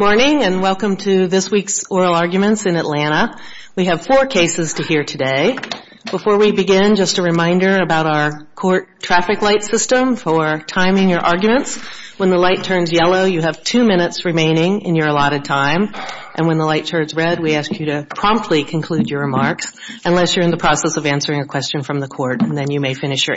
Good morning and welcome to this week's Oral Arguments in Atlanta. We have four cases to hear today. Before we begin, just a reminder about our court traffic light system for timing your arguments. When the light turns yellow, you have two minutes remaining in your allotted time, and when the light turns red, we ask you to promptly conclude your remarks unless you're in the process of answering a question from the court, and then you may finish your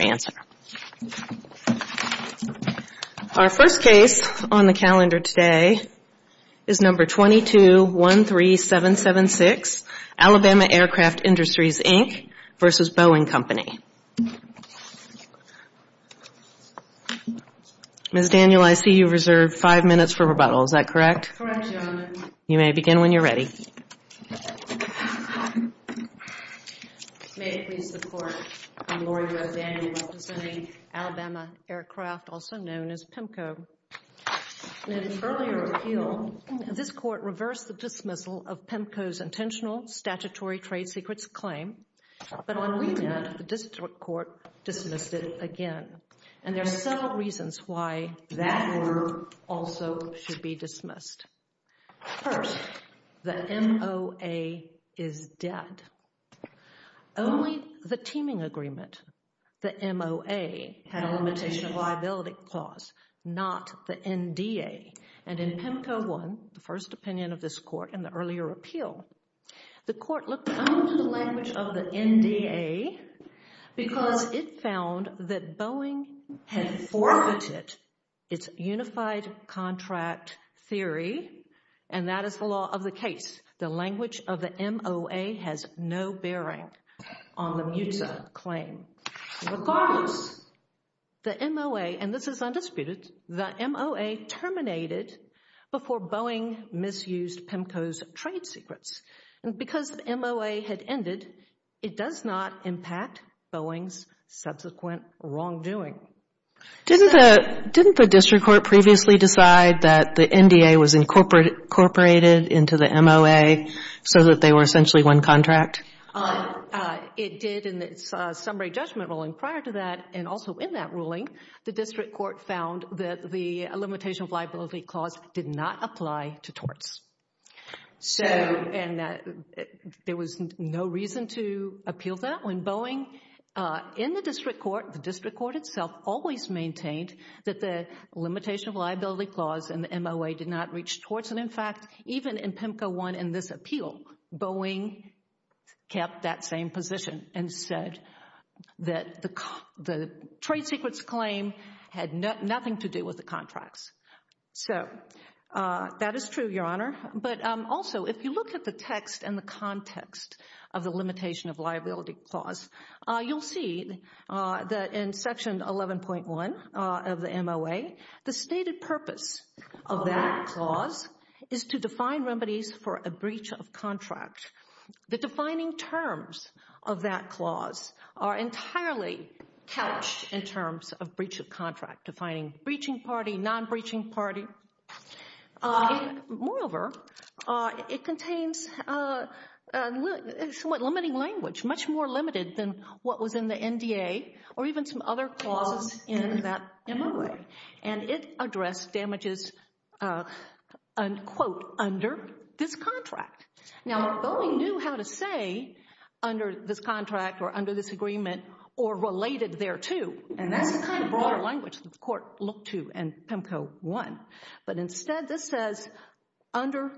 is number 2213776, Alabama Aircraft Industries, Inc. v. Boeing Company. Ms. Daniel, I see you've reserved five minutes for rebuttal. Is that correct? Correct, Your Honor. You may begin when you're ready. May it please the Court, I'm Laurie Rose Daniel, representing Alabama Aircraft, also known as PEMCO. In its earlier appeal, this Court reversed the dismissal of PEMCO's intentional statutory trade secrets claim, but on remand, the district court dismissed it again, and there are several reasons why that order also should be dismissed. First, the MOA is dead. Only the teaming agreement, the MOA, had a limitation of liability clause, not the NDA, and in PEMCO 1, the first opinion of this Court in the earlier appeal, the Court looked only to the language of the NDA because it found that Boeing had forfeited its unified contract theory, and that is the law of the case. The language of the MOA has no bearing on the MUTSA claim. Regardless, the MOA, and this is undisputed, the MOA terminated before Boeing misused PEMCO's trade secrets, and because the MOA had ended, it does not impact Boeing's subsequent wrongdoing. Didn't the district court previously decide that the NDA was incorporated into the MOA so that they were essentially one contract? It did in its summary judgment ruling. Prior to that, and also in that ruling, the district court found that the limitation of liability clause did not apply to torts. There was no reason to appeal that when Boeing, in the district court, the district court itself always maintained that the limitation of liability clause in the MOA did not reach torts, and in fact, even in PEMCO 1 in this appeal, Boeing kept that same position and said that the trade secrets claim had nothing to do with the contracts. So, that is true, Your Honor, but also if you look at the text and the context of the limitation of liability clause, you'll see that in section 11.1 of the MOA, the stated purpose of that clause is to define remedies for a breach of contract. The defining terms of that clause are entirely couched in terms of breach of contract, defining breaching party, non-breaching party. Moreover, it contains a somewhat limiting language, much more limited than what was in the NDA or even some other clauses in that MOA, and it addressed damages, unquote, under this contract. Now, Boeing knew how to say under this contract or under this agreement or related thereto, and that's a kind of broader language that the court looked to in PEMCO 1, but instead this says under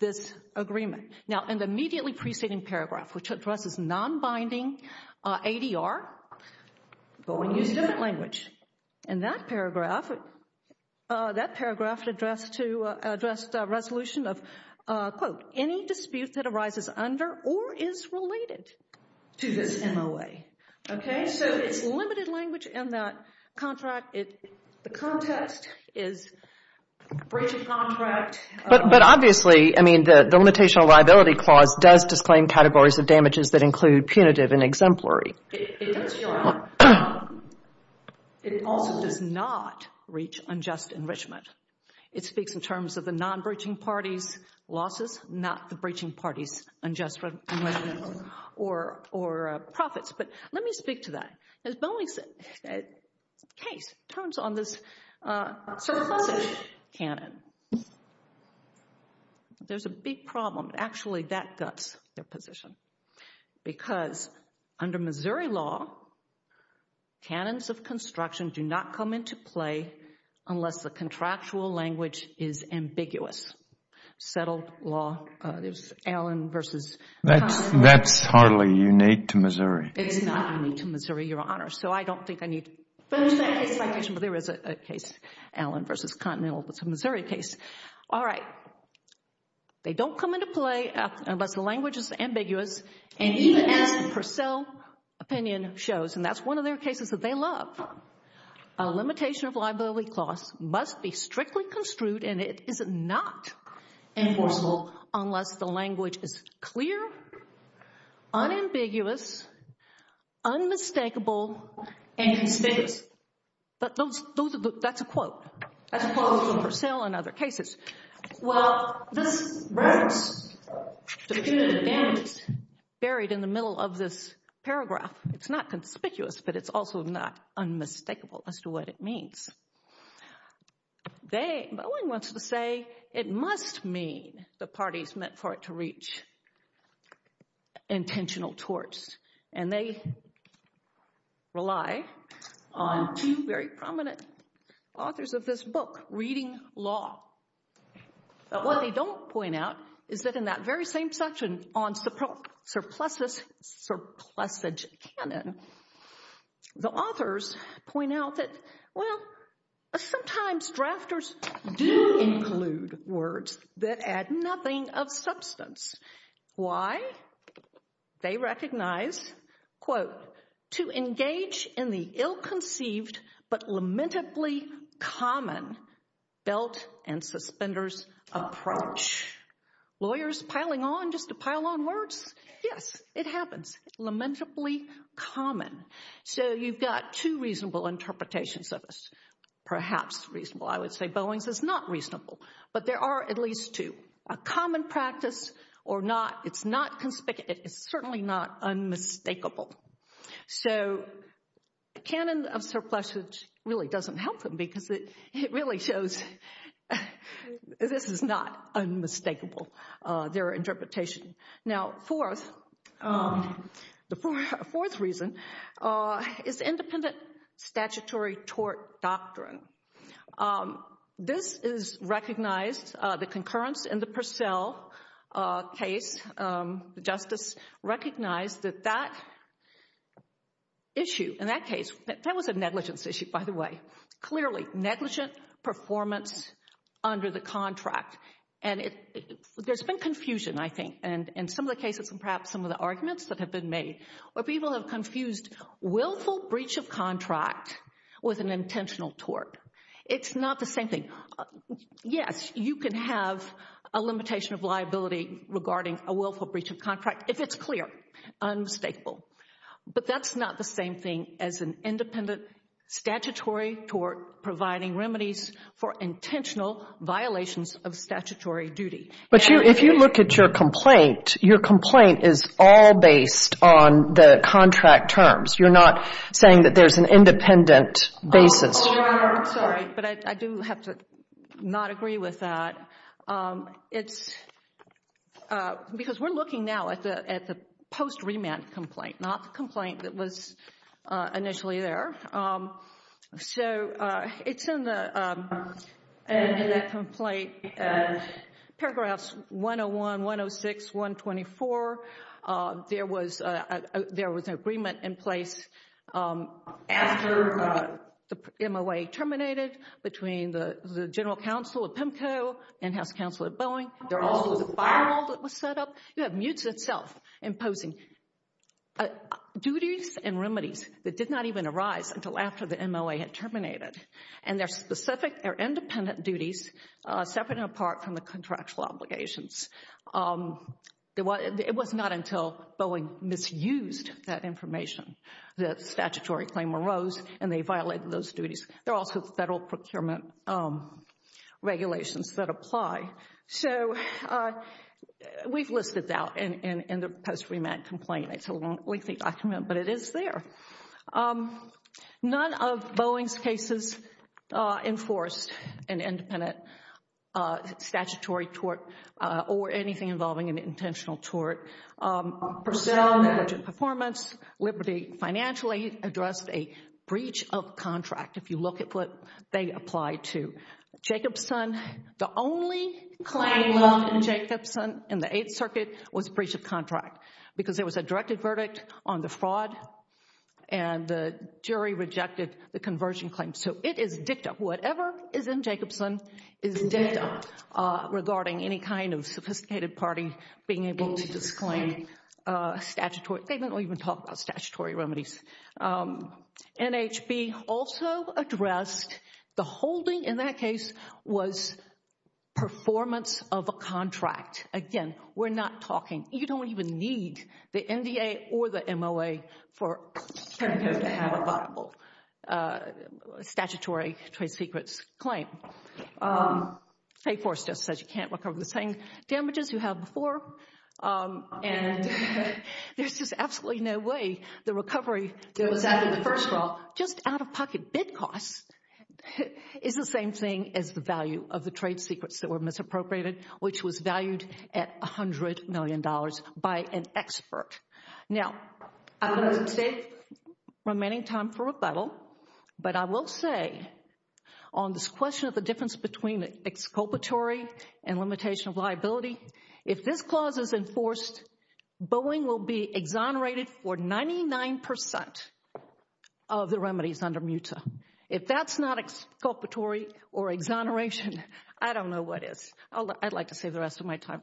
this agreement. Now, in the immediately preceding paragraph, which addresses non-binding ADR, Boeing used a different language. In that paragraph, that paragraph addressed resolution of, quote, any dispute that arises under or is related to this MOA, okay? So, it's limited language in that contract. The context is breach of contract. But obviously, I mean, the Limitation of Liability Clause does disclaim categories of damages that include punitive and exemplary. It does not. It also does not reach unjust enrichment. It speaks in terms of the non-breaching party's losses, not the breaching party's unjust enrichment or profits, but let me speak to that. As Boeing's case turns on this sort of classic canon, there's a big problem. Actually, that guts their position, because under Missouri law, canons of construction do not come into play unless the contractual language is ambiguous. Settled law, there's Allen versus Conway. That's hardly unique to Missouri. It's not unique to Missouri, Your Honor, so I don't think I need to finish that case citation, but there is a case, Allen versus Continental. It's a Missouri case. All right. They don't come into play unless the language is ambiguous, and even as the Purcell opinion shows, and that's one of their cases that they love, a Limitation of Liability Clause must be strictly construed, and it is not enforceable unless the language is clear, unambiguous, unmistakable, and conspicuous. That's a quote. That's a quote from Purcell and other cases. Well, this reference to punitive damage is buried in the middle of this paragraph. It's not conspicuous, but it's also not unmistakable as to what it means. They, Boeing wants to say, it must mean the party's meant for it to reach intentional torts, and they rely on two very prominent authors of this book, Reading Law, but what they don't point out is that in that very same section on surpluses, surplusage canon, the authors point out that, well, sometimes drafters do include words that add nothing of substance. Why? They recognize, quote, to engage in the ill-conceived but lamentably common belt and suspenders approach. Lawyers piling on just to pile on words? Yes, it happens, lamentably common. So, you've got two reasonable interpretations of this, perhaps reasonable. I would say Boeing's is not reasonable, but there are at least two. A common practice or not, it's not conspicuous. It's certainly not unmistakable. So, canon of surpluses really doesn't help them because it really shows this is not unmistakable, their interpretation. Now, the fourth reason is independent statutory tort doctrine. This is recognized, the concurrence in the Purcell case, the justice recognized that that issue, in that case, that was a negligence issue, by the way. Clearly, negligent performance under the contract. There's been confusion, I think, in some of the cases and perhaps some of the arguments that have been made where people have confused willful breach of contract with an intentional tort. It's not the same thing. Yes, you can have a limitation of liability regarding a willful breach of contract if it's clear, unmistakable, but that's not the same thing as an independent statutory tort providing remedies for intentional violations of statutory duty. But if you look at your complaint, your complaint is all based on the contract terms. You're not saying that there's an independent basis. Sorry, but I do have to not agree with that because we're looking now at the post-remand complaint, not the complaint that was initially there. It's in that complaint, paragraphs 101, 106, 124. There was an agreement in place after the MOA terminated between the General Counsel at PIMCO and House Counsel at Boeing. There also was a firewall that was set up. You have MUTES itself imposing duties and remedies that did not even arise until after the MOA had terminated. And they're specific, they're independent duties separate and apart from the contractual obligations. It was not until Boeing misused that information that statutory claim arose and they violated those duties. There are also federal procurement regulations that apply. So we've listed that in the post-remand complaint. It's a lengthy document, but it is there. None of Boeing's cases enforced an independent statutory tort or anything involving an intentional tort. Per se on the budget performance, Liberty financially addressed a breach of contract, if you look at what they applied to. Jacobson, the only claim left in Jacobson in the Eighth Circuit was breach of contract because there was a directed verdict on the fraud and the jury regarding any kind of sophisticated party being able to disclaim a statutory statement or even talk about statutory remedies. NHB also addressed the holding in that case was performance of a contract. Again, we're not talking, you don't even need the NDA or the MOA for this. You can't recover the same damages you have before. And there's just absolutely no way the recovery goes out of the first row. Just out-of-pocket bid costs is the same thing as the value of the trade secrets that were misappropriated, which was valued at $100 million by an expert. Now, I'm going to take the remaining time for rebuttal, but I will say on this question of the difference between exculpatory and limitation of liability, if this clause is enforced, Boeing will be exonerated for 99% of the remedies under MUTA. If that's not exculpatory or exoneration, I don't know what is. I'd like to save the time.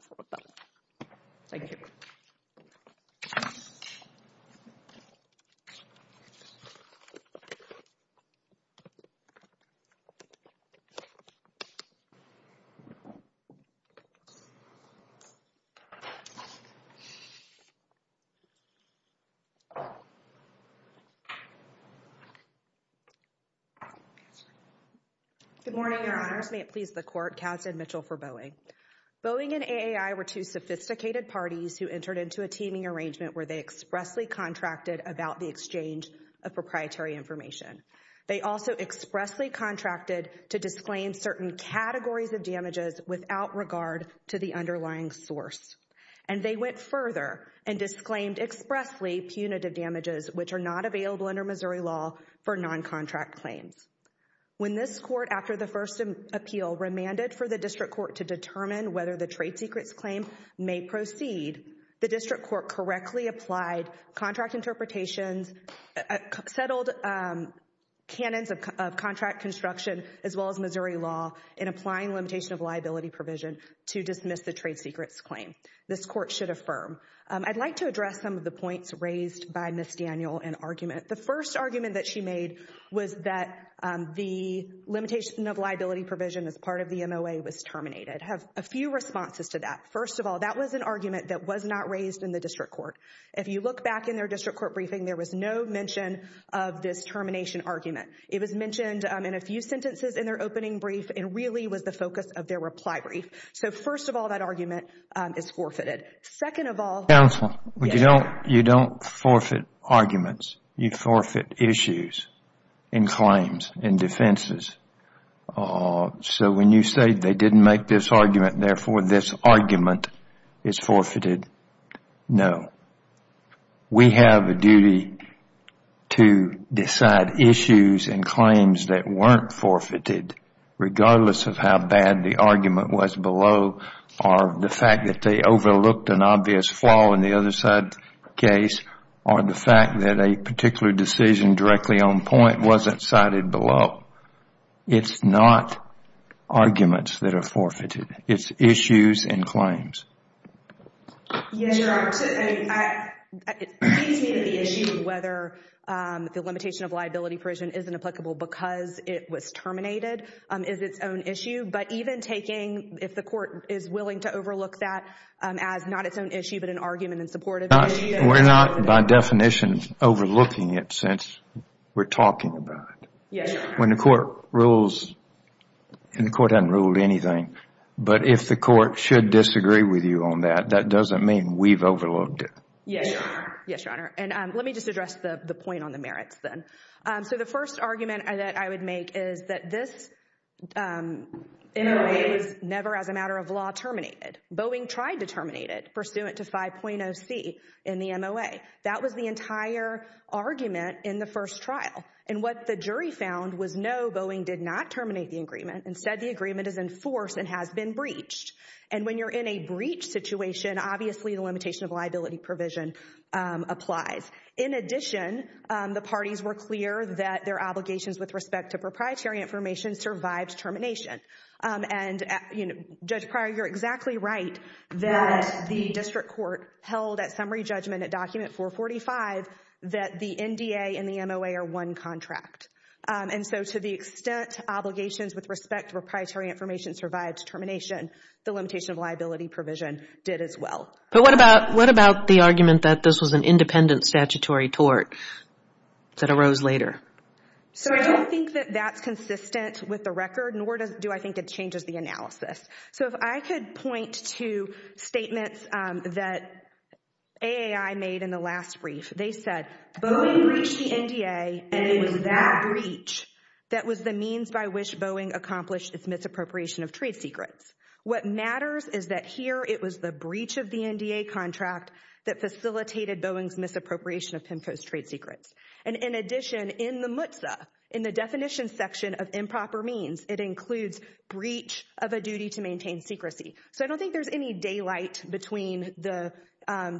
Good morning, Your Honors. May it please the Court, Katz and Mitchell for Boeing. Boeing and AAI were two sophisticated parties who entered into a teaming arrangement where they expressly contracted about the exchange of proprietary information. They also expressly contracted to disclaim certain categories of damages without regard to the underlying source. And they went further and disclaimed expressly punitive damages which are not available under Missouri law for non-contract claims. When this Court, after the first appeal, remanded for the District Court to determine whether the trade secrets claim may proceed, the District Court correctly applied contract interpretations, settled canons of contract construction, as well as Missouri law in applying limitation of liability provision to dismiss the trade secrets claim. This Court should affirm. I'd like to address some of the points raised by Ms. Daniel in argument. The first argument that she made was that the limitation of liability provision as part of the MOA was terminated. I have a few responses to that. First of all, that was an argument that was not raised in the District Court. If you look back in their District Court briefing, there was no mention of this termination argument. It was mentioned in a few sentences in their opening brief and really was the focus of their reply brief. So first of all, that argument is forfeited. Second of all... Counsel, you don't forfeit arguments. You forfeit issues and claims and defenses. So when you say they didn't make this argument, therefore this argument is forfeited. No. We have a duty to decide issues and claims that weren't forfeited, regardless of how bad the argument was below, or the fact that they overlooked an obvious flaw in the other side case, or the fact that a particular decision directly on point wasn't cited below. It's not arguments that are forfeited. It's issues and claims. Yes, Your Honor. It seems to me that the issue of whether the limitation of liability provision isn't applicable because it was terminated is its own issue. But even taking, if the court is willing to overlook that as not its own issue, but an argument in support of it... We're not, by definition, overlooking it since we're talking about it. Yes, Your Honor. When the court rules, and the court hasn't ruled anything, but if the court should disagree with you on that, that doesn't mean we've overlooked it. Yes, Your Honor. Yes, Your Honor. And let me just address the point on the merits then. So the first argument that I would make is that this MOA is never as a matter of law terminated. Boeing tried to terminate it, pursuant to 5.0c in the MOA. That was the entire argument in the first trial. And what the jury found was, no, Boeing did not terminate the agreement. Instead, the agreement is in force and has been breached. And when you're in a breach situation, obviously the limitation of liability provision applies. In addition, the parties were clear that their obligations with respect to proprietary information survived termination. And, Judge Pryor, you're exactly right that the district court held at summary judgment at document 445 that the NDA and the MOA are one contract. And so to the extent obligations with respect to proprietary information survived termination, the limitation of liability provision did as well. But what about the argument that this was an independent statutory tort that arose later? So I don't think that that's consistent with the record, nor do I think it changes the analysis. So if I could point to statements that AAI made in the last brief, they said, Boeing breached the NDA and it was that breach that was the means by which Boeing accomplished its misappropriation of trade secrets. What matters is that here it was the breach of the NDA contract that facilitated Boeing's misappropriation of PIMFO's trade secrets. And in addition, in the MTSA, in the definition section of improper means, it includes breach of a duty to maintain secrecy. So I don't think there's any daylight between the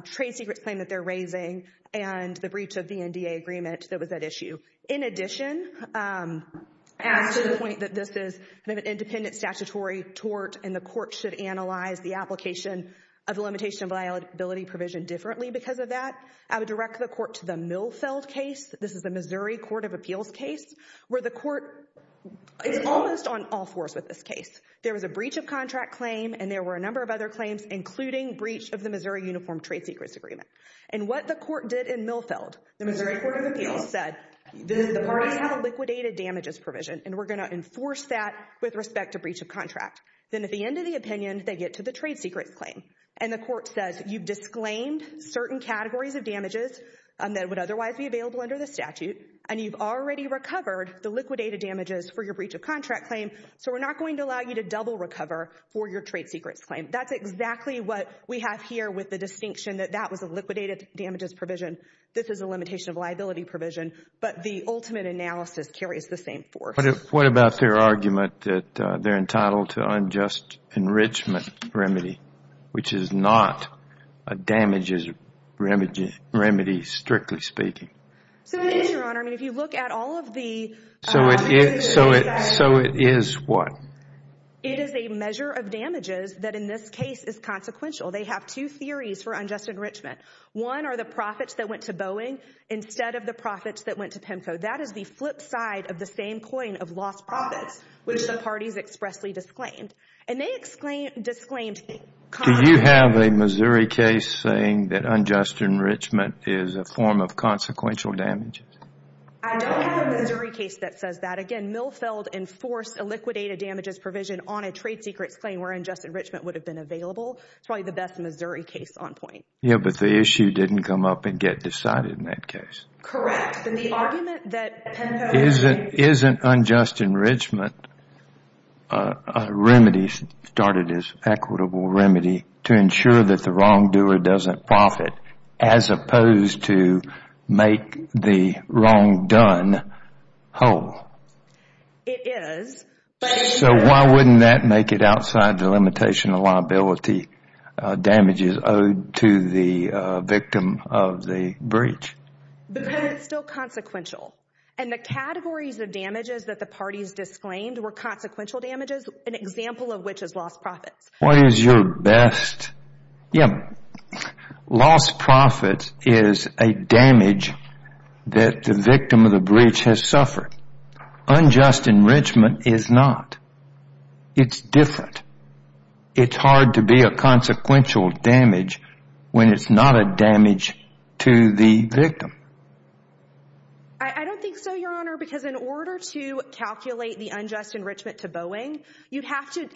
trade secrets claim that they're raising and the breach of the NDA agreement that was at issue. In addition, as to the point that this is an independent statutory tort and the court should analyze the application of the limitation of liability provision differently because of that, I would direct the court to Milfeld case. This is the Missouri Court of Appeals case where the court is almost on all fours with this case. There was a breach of contract claim and there were a number of other claims, including breach of the Missouri Uniform Trade Secrets Agreement. And what the court did in Milfeld, the Missouri Court of Appeals said, the parties have a liquidated damages provision and we're going to enforce that with respect to breach of contract. Then at the end of the opinion, they get to the trade secrets claim and the court says, you've disclaimed certain categories of damages that would otherwise be available under the statute and you've already recovered the liquidated damages for your breach of contract claim. So we're not going to allow you to double recover for your trade secrets claim. That's exactly what we have here with the distinction that that was a liquidated damages provision. This is a limitation of liability provision. But the ultimate analysis carries the same force. What about their argument that they're entitled to unjust enrichment remedy, which is not a damages remedy, strictly speaking? So it is, Your Honor. I mean, if you look at all of the... So it is what? It is a measure of damages that in this case is consequential. They have two theories for unjust enrichment. One are the profits that went to Boeing instead of the profits that went to PIMCO. That is the flip side of the same coin of lost profits, which the parties expressly disclaimed. And they disclaimed... Do you have a Missouri case saying that unjust enrichment is a form of consequential damage? I don't have a Missouri case that says that. Again, Milfeld enforced a liquidated damages provision on a trade secrets claim where unjust enrichment would have been available. It's probably the best Missouri case on point. Yeah, but the issue didn't come up and get decided in that case. Correct. But the argument that PIMCO... Isn't unjust enrichment a remedy started as equitable remedy to ensure that the wrongdoer doesn't profit as opposed to make the wrong done whole? It is. So why wouldn't that make it outside the limitation of liability damages owed to the victim of the breach? Because it's still consequential. And the categories of damages that the parties disclaimed were consequential damages, an example of which is lost profits. What is your best? Yeah. Lost profits is a damage that the victim of the breach has suffered. Unjust enrichment is not. It's different. It's hard to be a consequential damage when it's not a damage to the victim. I don't think so, Your Honor, because in order to calculate the unjust enrichment to Boeing, you'd have to...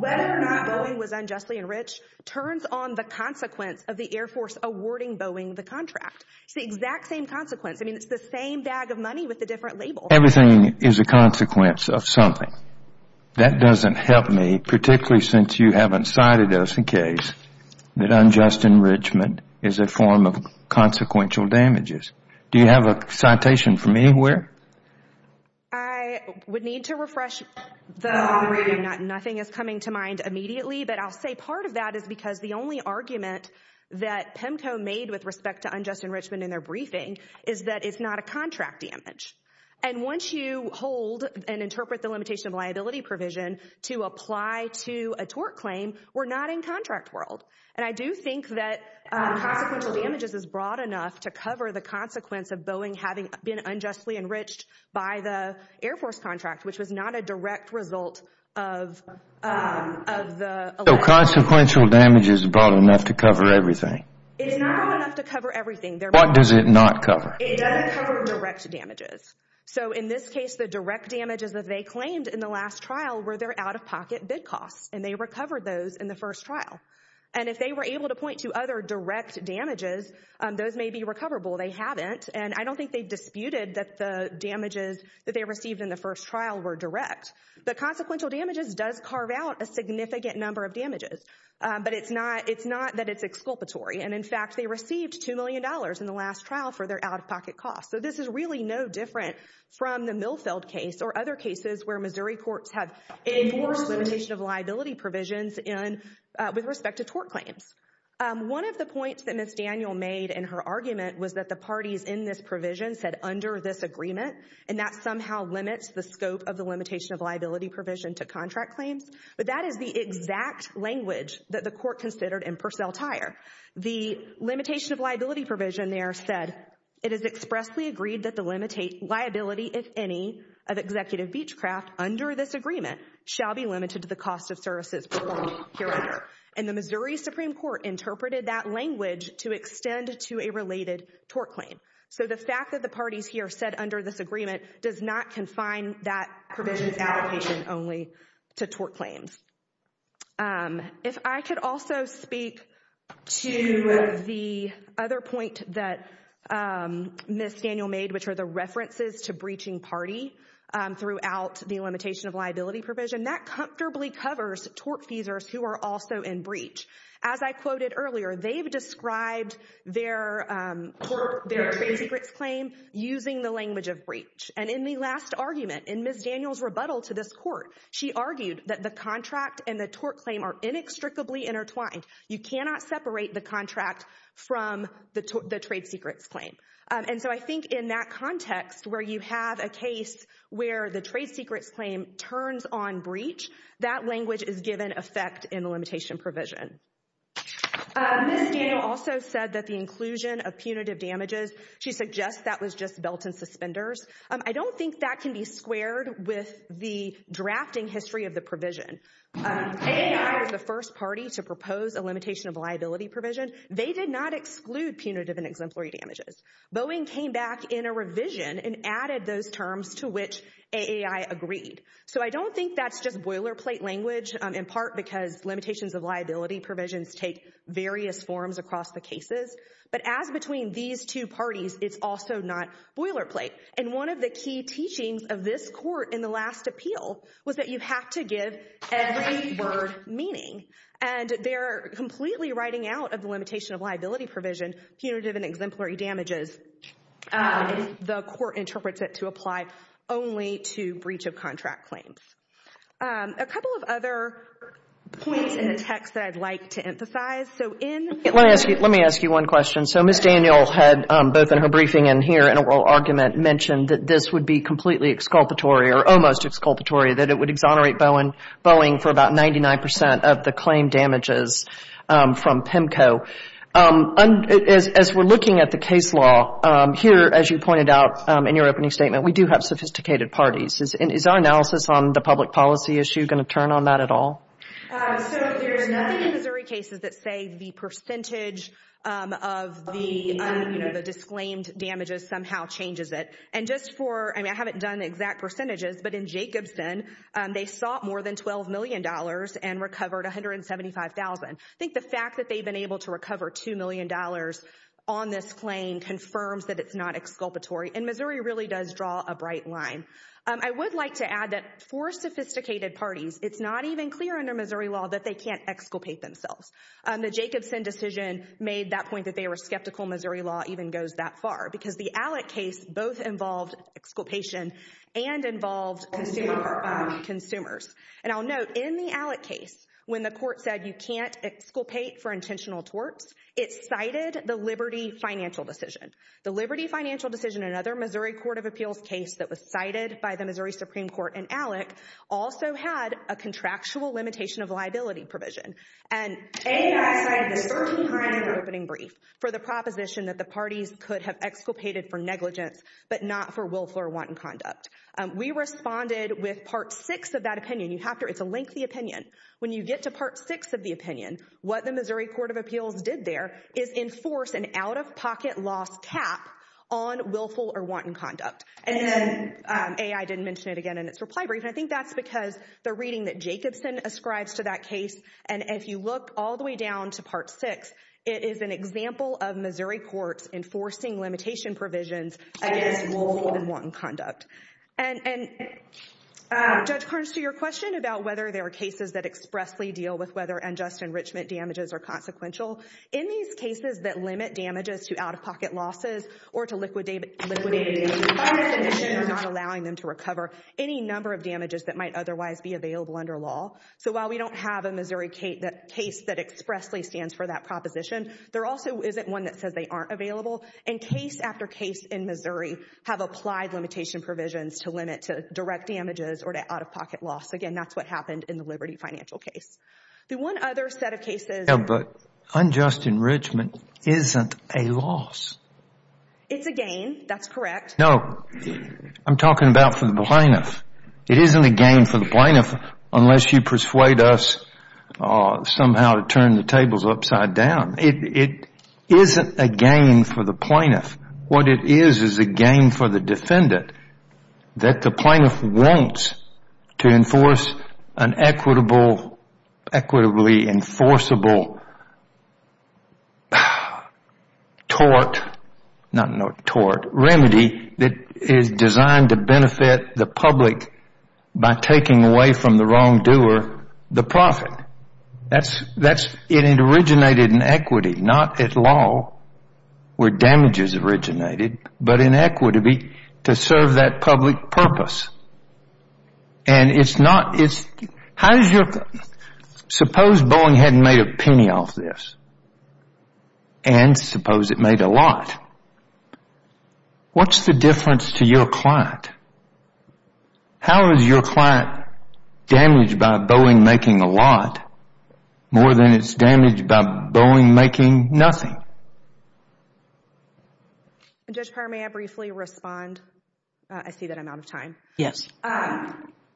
Whether or not Boeing was unjustly enriched turns on the consequence of the Air Force awarding Boeing the contract. It's the exact same consequence. I mean, it's the same bag of money with the different labels. Everything is a consequence of something. That doesn't help me, particularly since you haven't cited us in case that unjust enrichment is a form of consequential damages. Do you have a citation from anywhere? I would need to refresh. Nothing is coming to mind immediately. But I'll say part of that is because the only argument that PEMCO made with respect to unjust enrichment in their briefing is that it's not a contract damage. And once you hold and interpret the limitation of liability provision to apply to a tort claim, we're not in contract world. And I do think that consequential damages is broad enough to cover the consequence of Boeing having been unjustly enriched by the Air Force contract, which was not a direct result of the... So consequential damage is broad enough to cover everything? It's not broad enough to cover everything. What does it not cover? It doesn't cover direct damages. So in this case, the direct damages that they claimed in the last trial were their out-of-pocket bid costs, and they recovered those in the first trial. And if they were able to point to other direct damages, those may be recoverable. They haven't. And I don't think they disputed that the damages that they received in the first trial were direct. The consequential damages does carve out a significant number of damages, but it's not that it's exculpatory. And in fact, they received $2 million in the last trial for their out-of-pocket costs. So this is really no different from the Milfeld case or other cases where Missouri courts have enforced limitation of liability provisions with respect to tort claims. One of the points that Ms. Daniel made in her argument was that the parties in this provision said, under this agreement, and that somehow limits the scope of the limitation of liability provision to contract claims. But that is the exact language that the court expressly agreed that the limit liability, if any, of Executive Beechcraft under this agreement shall be limited to the cost of services performed hereafter. And the Missouri Supreme Court interpreted that language to extend to a related tort claim. So the fact that the parties here said under this agreement does not confine that provision's allocation only to tort claims. If I could also speak to the other point that Ms. Daniel made, which are the references to breaching party throughout the limitation of liability provision, that comfortably covers tortfeasors who are also in breach. As I quoted earlier, they've described their tort, their trade secrets claim using the language of breach. And in the last argument, in Ms. Daniel's rebuttal to this court, she argued that the contract and the tort claim are inextricably intertwined. You cannot separate the contract from the trade secrets claim. And so I think in that context where you have a case where the trade secrets claim turns on breach, that language is given effect in the limitation provision. Ms. Daniel also said that the inclusion of punitive damages, she suggests that was just belt and suspenders. I don't think that can be squared with the drafting history of the provision. AAI was the first party to propose a limitation of liability provision. They did not exclude punitive and exemplary damages. Boeing came back in a revision and added those terms to which AAI agreed. So I don't think that's just boilerplate language, in part because limitations of liability provisions take various forms across the cases. But as between these two parties, it's also not boilerplate. And one of the key teachings of this court in the last appeal was that you have to give every word meaning. And they're completely writing out of the limitation of liability provision, punitive and exemplary damages. The court interprets it to apply only to breach of contract claims. A couple of other points in the text that I'd like to emphasize. So in- oral argument mentioned that this would be completely exculpatory or almost exculpatory, that it would exonerate Boeing for about 99 percent of the claim damages from PIMCO. As we're looking at the case law here, as you pointed out in your opening statement, we do have sophisticated parties. Is our analysis on the public policy issue going to turn on that at all? So there's nothing in Missouri cases that say the percentage of the, you know, disclaimed damages somehow changes it. And just for, I mean, I haven't done exact percentages, but in Jacobson, they sought more than $12 million and recovered $175,000. I think the fact that they've been able to recover $2 million on this claim confirms that it's not exculpatory. And Missouri really does draw a bright line. I would like to add that for sophisticated parties, it's not even clear under Missouri law that they can't exculpate themselves. The Jacobson decision made that point that they were skeptical Missouri law even goes that far, because the Allick case both involved exculpation and involved consumers. And I'll note in the Allick case, when the court said you can't exculpate for intentional torts, it cited the Liberty financial decision. The Liberty financial decision, another Missouri Court of Appeals case that was cited by the Missouri Supreme Court in Allick, also had a contractual limitation of liability provision. And for the proposition that the parties could have exculpated for negligence, but not for willful or wanton conduct. We responded with part six of that opinion. You have to, it's a lengthy opinion. When you get to part six of the opinion, what the Missouri Court of Appeals did there is enforce an out-of-pocket loss cap on willful or wanton conduct. And then A, I didn't mention it again in its reply brief. And I think that's because the reading that Jacobson ascribes to that case. And if you look all the way down to part six, it is an example of Missouri courts enforcing limitation provisions against willful and wanton conduct. And Judge Carnes, to your question about whether there are cases that expressly deal with whether unjust enrichment damages are consequential. In these cases that limit damages to out-of-pocket losses or to liquidate, or not allowing them to recover any number of damages that might otherwise be available under law. So while we don't have a Missouri case that expressly stands for that proposition, there also isn't one that says they aren't available. And case after case in Missouri have applied limitation provisions to limit to direct damages or to out-of-pocket loss. Again, that's what happened in the Liberty financial case. The one other set of cases. Yeah, but unjust enrichment isn't a loss. It's a gain. That's correct. No, I'm talking about for the plaintiff. It isn't a gain for the plaintiff unless you persuade us somehow to turn the tables upside down. It isn't a gain for the plaintiff. What it is, is a gain for the defendant that the plaintiff wants to enforce an equitably enforceable tort, not tort, remedy that is designed to benefit the public by taking away from the wrongdoer the profit. That's, it originated in equity, not at law where damages originated, but in equity to serve that public purpose. And it's not, how does your, suppose Boeing hadn't made a penny off this? And suppose it made a lot. What's the difference to your client? How is your client damaged by Boeing making a lot more than it's damaged by Boeing making nothing? Judge Pryor, may I briefly respond? I see that I'm out of time. Yes.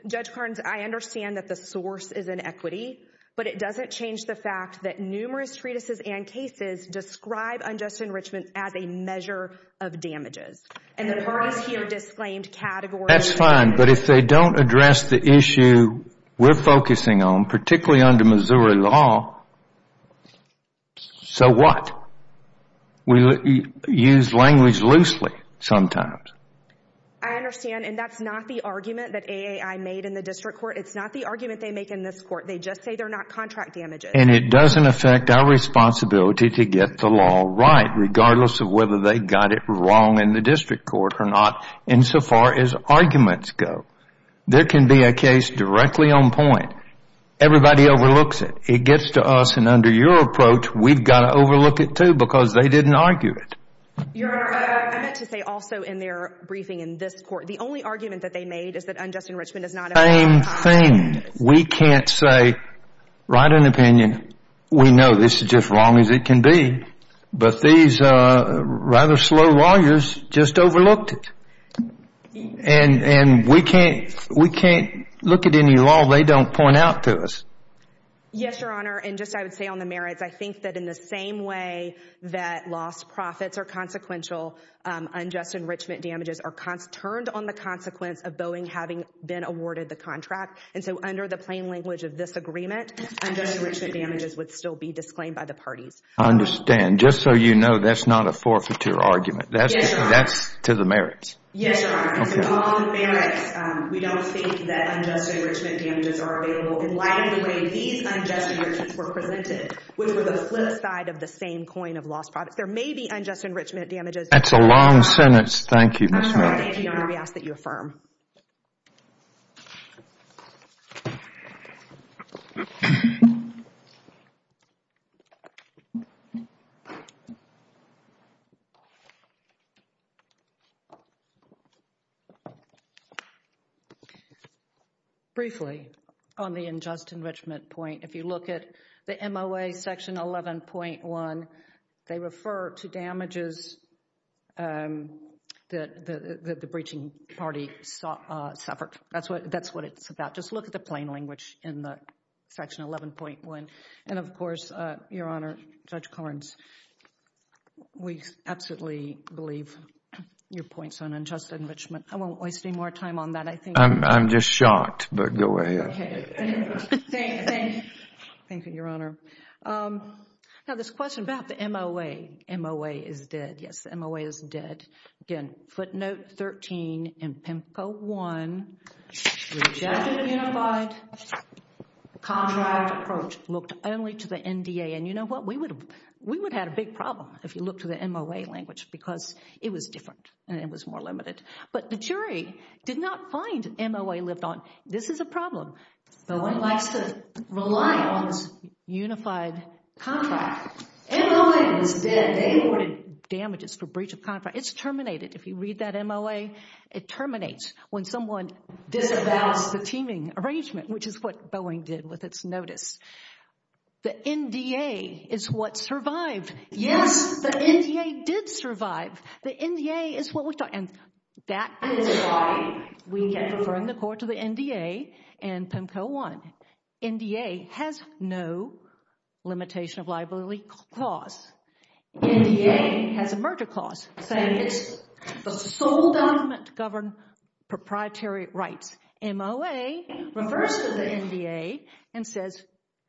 Judge Carnes, I understand that the source is in equity, but it doesn't change the fact that numerous treatises and cases describe unjust enrichment as a measure of damages. And the parties here disclaimed categories. That's fine, but if they don't address the issue we're focusing on, particularly under Missouri law, so what? We use language loosely sometimes. I understand. And that's not the argument that AAI made in the district court. It's not the argument they make in this court. They just say they're not contract damages. And it doesn't affect our responsibility to get the law right, regardless of whether they got it wrong in the district court or not, insofar as arguments go. There can be a case directly on point. Everybody overlooks it. It gets to us. And under your approach, we've got to overlook it too, because they didn't argue it. Your Honor, I meant to say also in their briefing in this court, the only argument that they made is that unjust enrichment is not a- Same thing. We can't say, write an opinion. We know this is just wrong as it can be. But these rather slow lawyers just overlooked it. And we can't look at any law they don't point out to us. Yes, Your Honor. And just I would say on the merits, I think that in the same way that lost profits are consequential, unjust enrichment damages are turned on the consequence of Boeing having been awarded the contract. And so under the plain language of this agreement, unjust enrichment damages would still be disclaimed by the parties. I understand. Just so you know, that's not a forfeiture argument. Yes, Your Honor. That's to the merits. Yes, Your Honor. To all the merits, we don't think that unjust enrichment damages are available in light of the way these unjust guarantees were presented, which were the flip side of the same coin of lost profits. There may be unjust enrichment damages- That's a long sentence. Thank you, Ms. Miller. Thank you, Your Honor. We ask that you affirm. Briefly, on the unjust enrichment point, if you look at the MOA section 11.1, they refer to damages that the breaching party suffered. That's what it's about. Just look at the plain language in the section 11.1. And of course, Your Honor, Judge Collins, we absolutely believe your points on unjust enrichment. I won't waste any more time on that. I think- I'm just shocked, but go ahead. Okay. Thank you, Your Honor. Now, this question about the MOA. MOA is dead. Yes, the MOA is dead. Again, footnote 13 in PIMCO 1, rejected the unified contract approach, looked only to the NDA. And you know what? We would have had a big problem if you look to the MOA language because it was different and it was more limited. But the jury did not find MOA lived on. This is a problem. No one likes to rely on this unified contract. MOA is dead. They awarded damages for breach of contract. If you read that MOA, it terminates when someone disavows the teaming arrangement, which is what Boeing did with its notice. The NDA is what survived. Yes, the NDA did survive. The NDA is what we thought. And that is why we can defer in the court to the NDA and PIMCO 1. NDA has no limitation of liability clause. NDA has a merger clause saying it's the sole document to govern proprietary rights. MOA refers to the NDA and says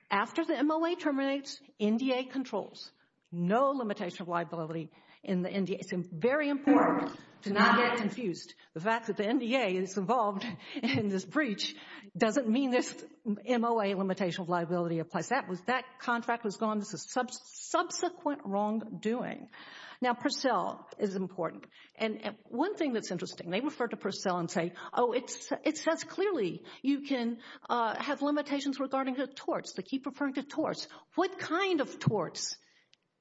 after the MOA terminates, NDA controls. No limitation of liability in the NDA. It's very important to not get confused. The fact that the NDA is involved in this breach doesn't mean this MOA limitation of liability applies. That contract was gone. This is subsequent wrongdoing. Now, Purcell is important. And one thing that's interesting, they refer to Purcell and say, oh, it says clearly you can have limitations regarding the torts. They keep referring to torts. What kind of torts?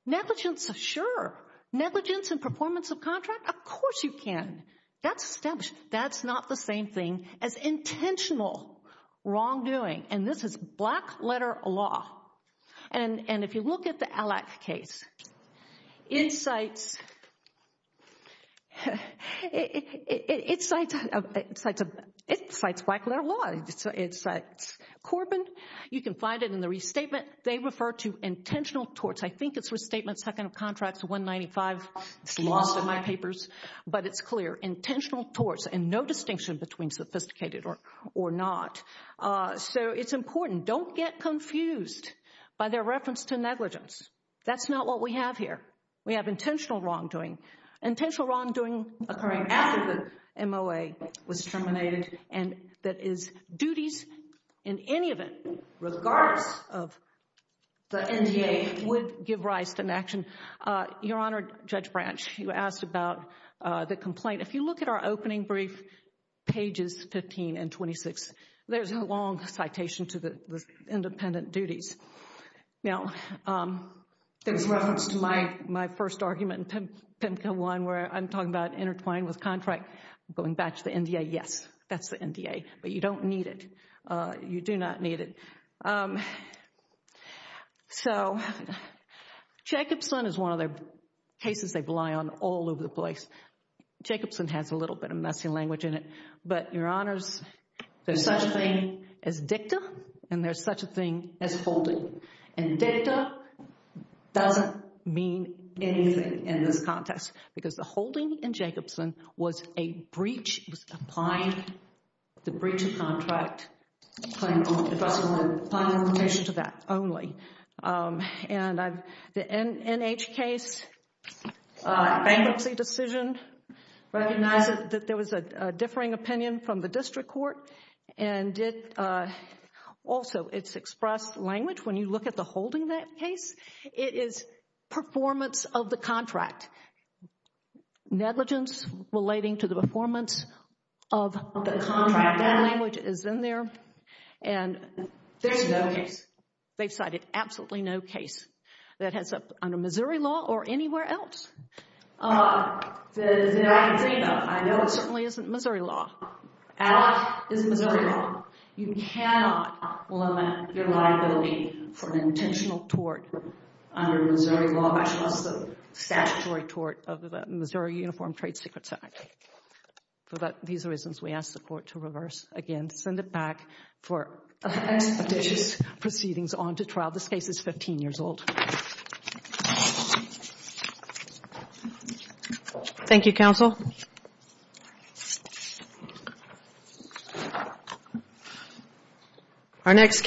Negligence of sure. Negligence and performance of contract. Of course you can. That's established. That's not the same thing as intentional wrongdoing. And this is black letter law. And if you look at the Allak case, it cites black letter law. It cites Corbin. You can find it in the restatement. They refer to intentional torts. I think it's restatement second of contracts 195. It's lost in my papers. But it's clear. Intentional torts and no distinction between sophisticated or not. So it's important. Don't get confused by their reference to negligence. That's not what we have here. We have intentional wrongdoing. Intentional wrongdoing occurring after the MOA was terminated. And that is duties in any event, regardless of the NDA, would give rise to an action. Your Honor, Judge Branch, you asked about the complaint. If you look at our opening brief, pages 15 and 26, there's a long citation to the independent duties. Now, there's reference to my first argument in PIMCA 1 where I'm talking about intertwined with contract, going back to the NDA. Yes, that's the NDA. But you don't need it. You do not need it. So, Jacobson is one of the cases they rely on all over the place. Jacobson has a little bit of messy language in it. But, Your Honors, there's such a thing as dicta, and there's such a thing as holding. And dicta doesn't mean anything in this context. Because the holding in Jacobson was a breach. It was applying the breach of contract. It was applying the limitation to that only. And the NH case bankruptcy decision, recognize that there was a differing opinion from the district court. And also, it's expressed language when you look at the holding that case. It is performance of the contract. Negligence relating to the performance of the contract. That language is in there. And there's no case. They've cited absolutely no case that has under Missouri law or anywhere else. That I can dream of. I know it certainly isn't Missouri law. Alloc is Missouri law. You cannot limit your liability for an intentional tort under Missouri law, much less the statutory tort of the Missouri Uniform Trade Secrets Act. For these reasons, we ask the court to reverse again, send it back for expeditious proceedings on to trial. This case is 15 years old. Thank you, counsel. Our next case.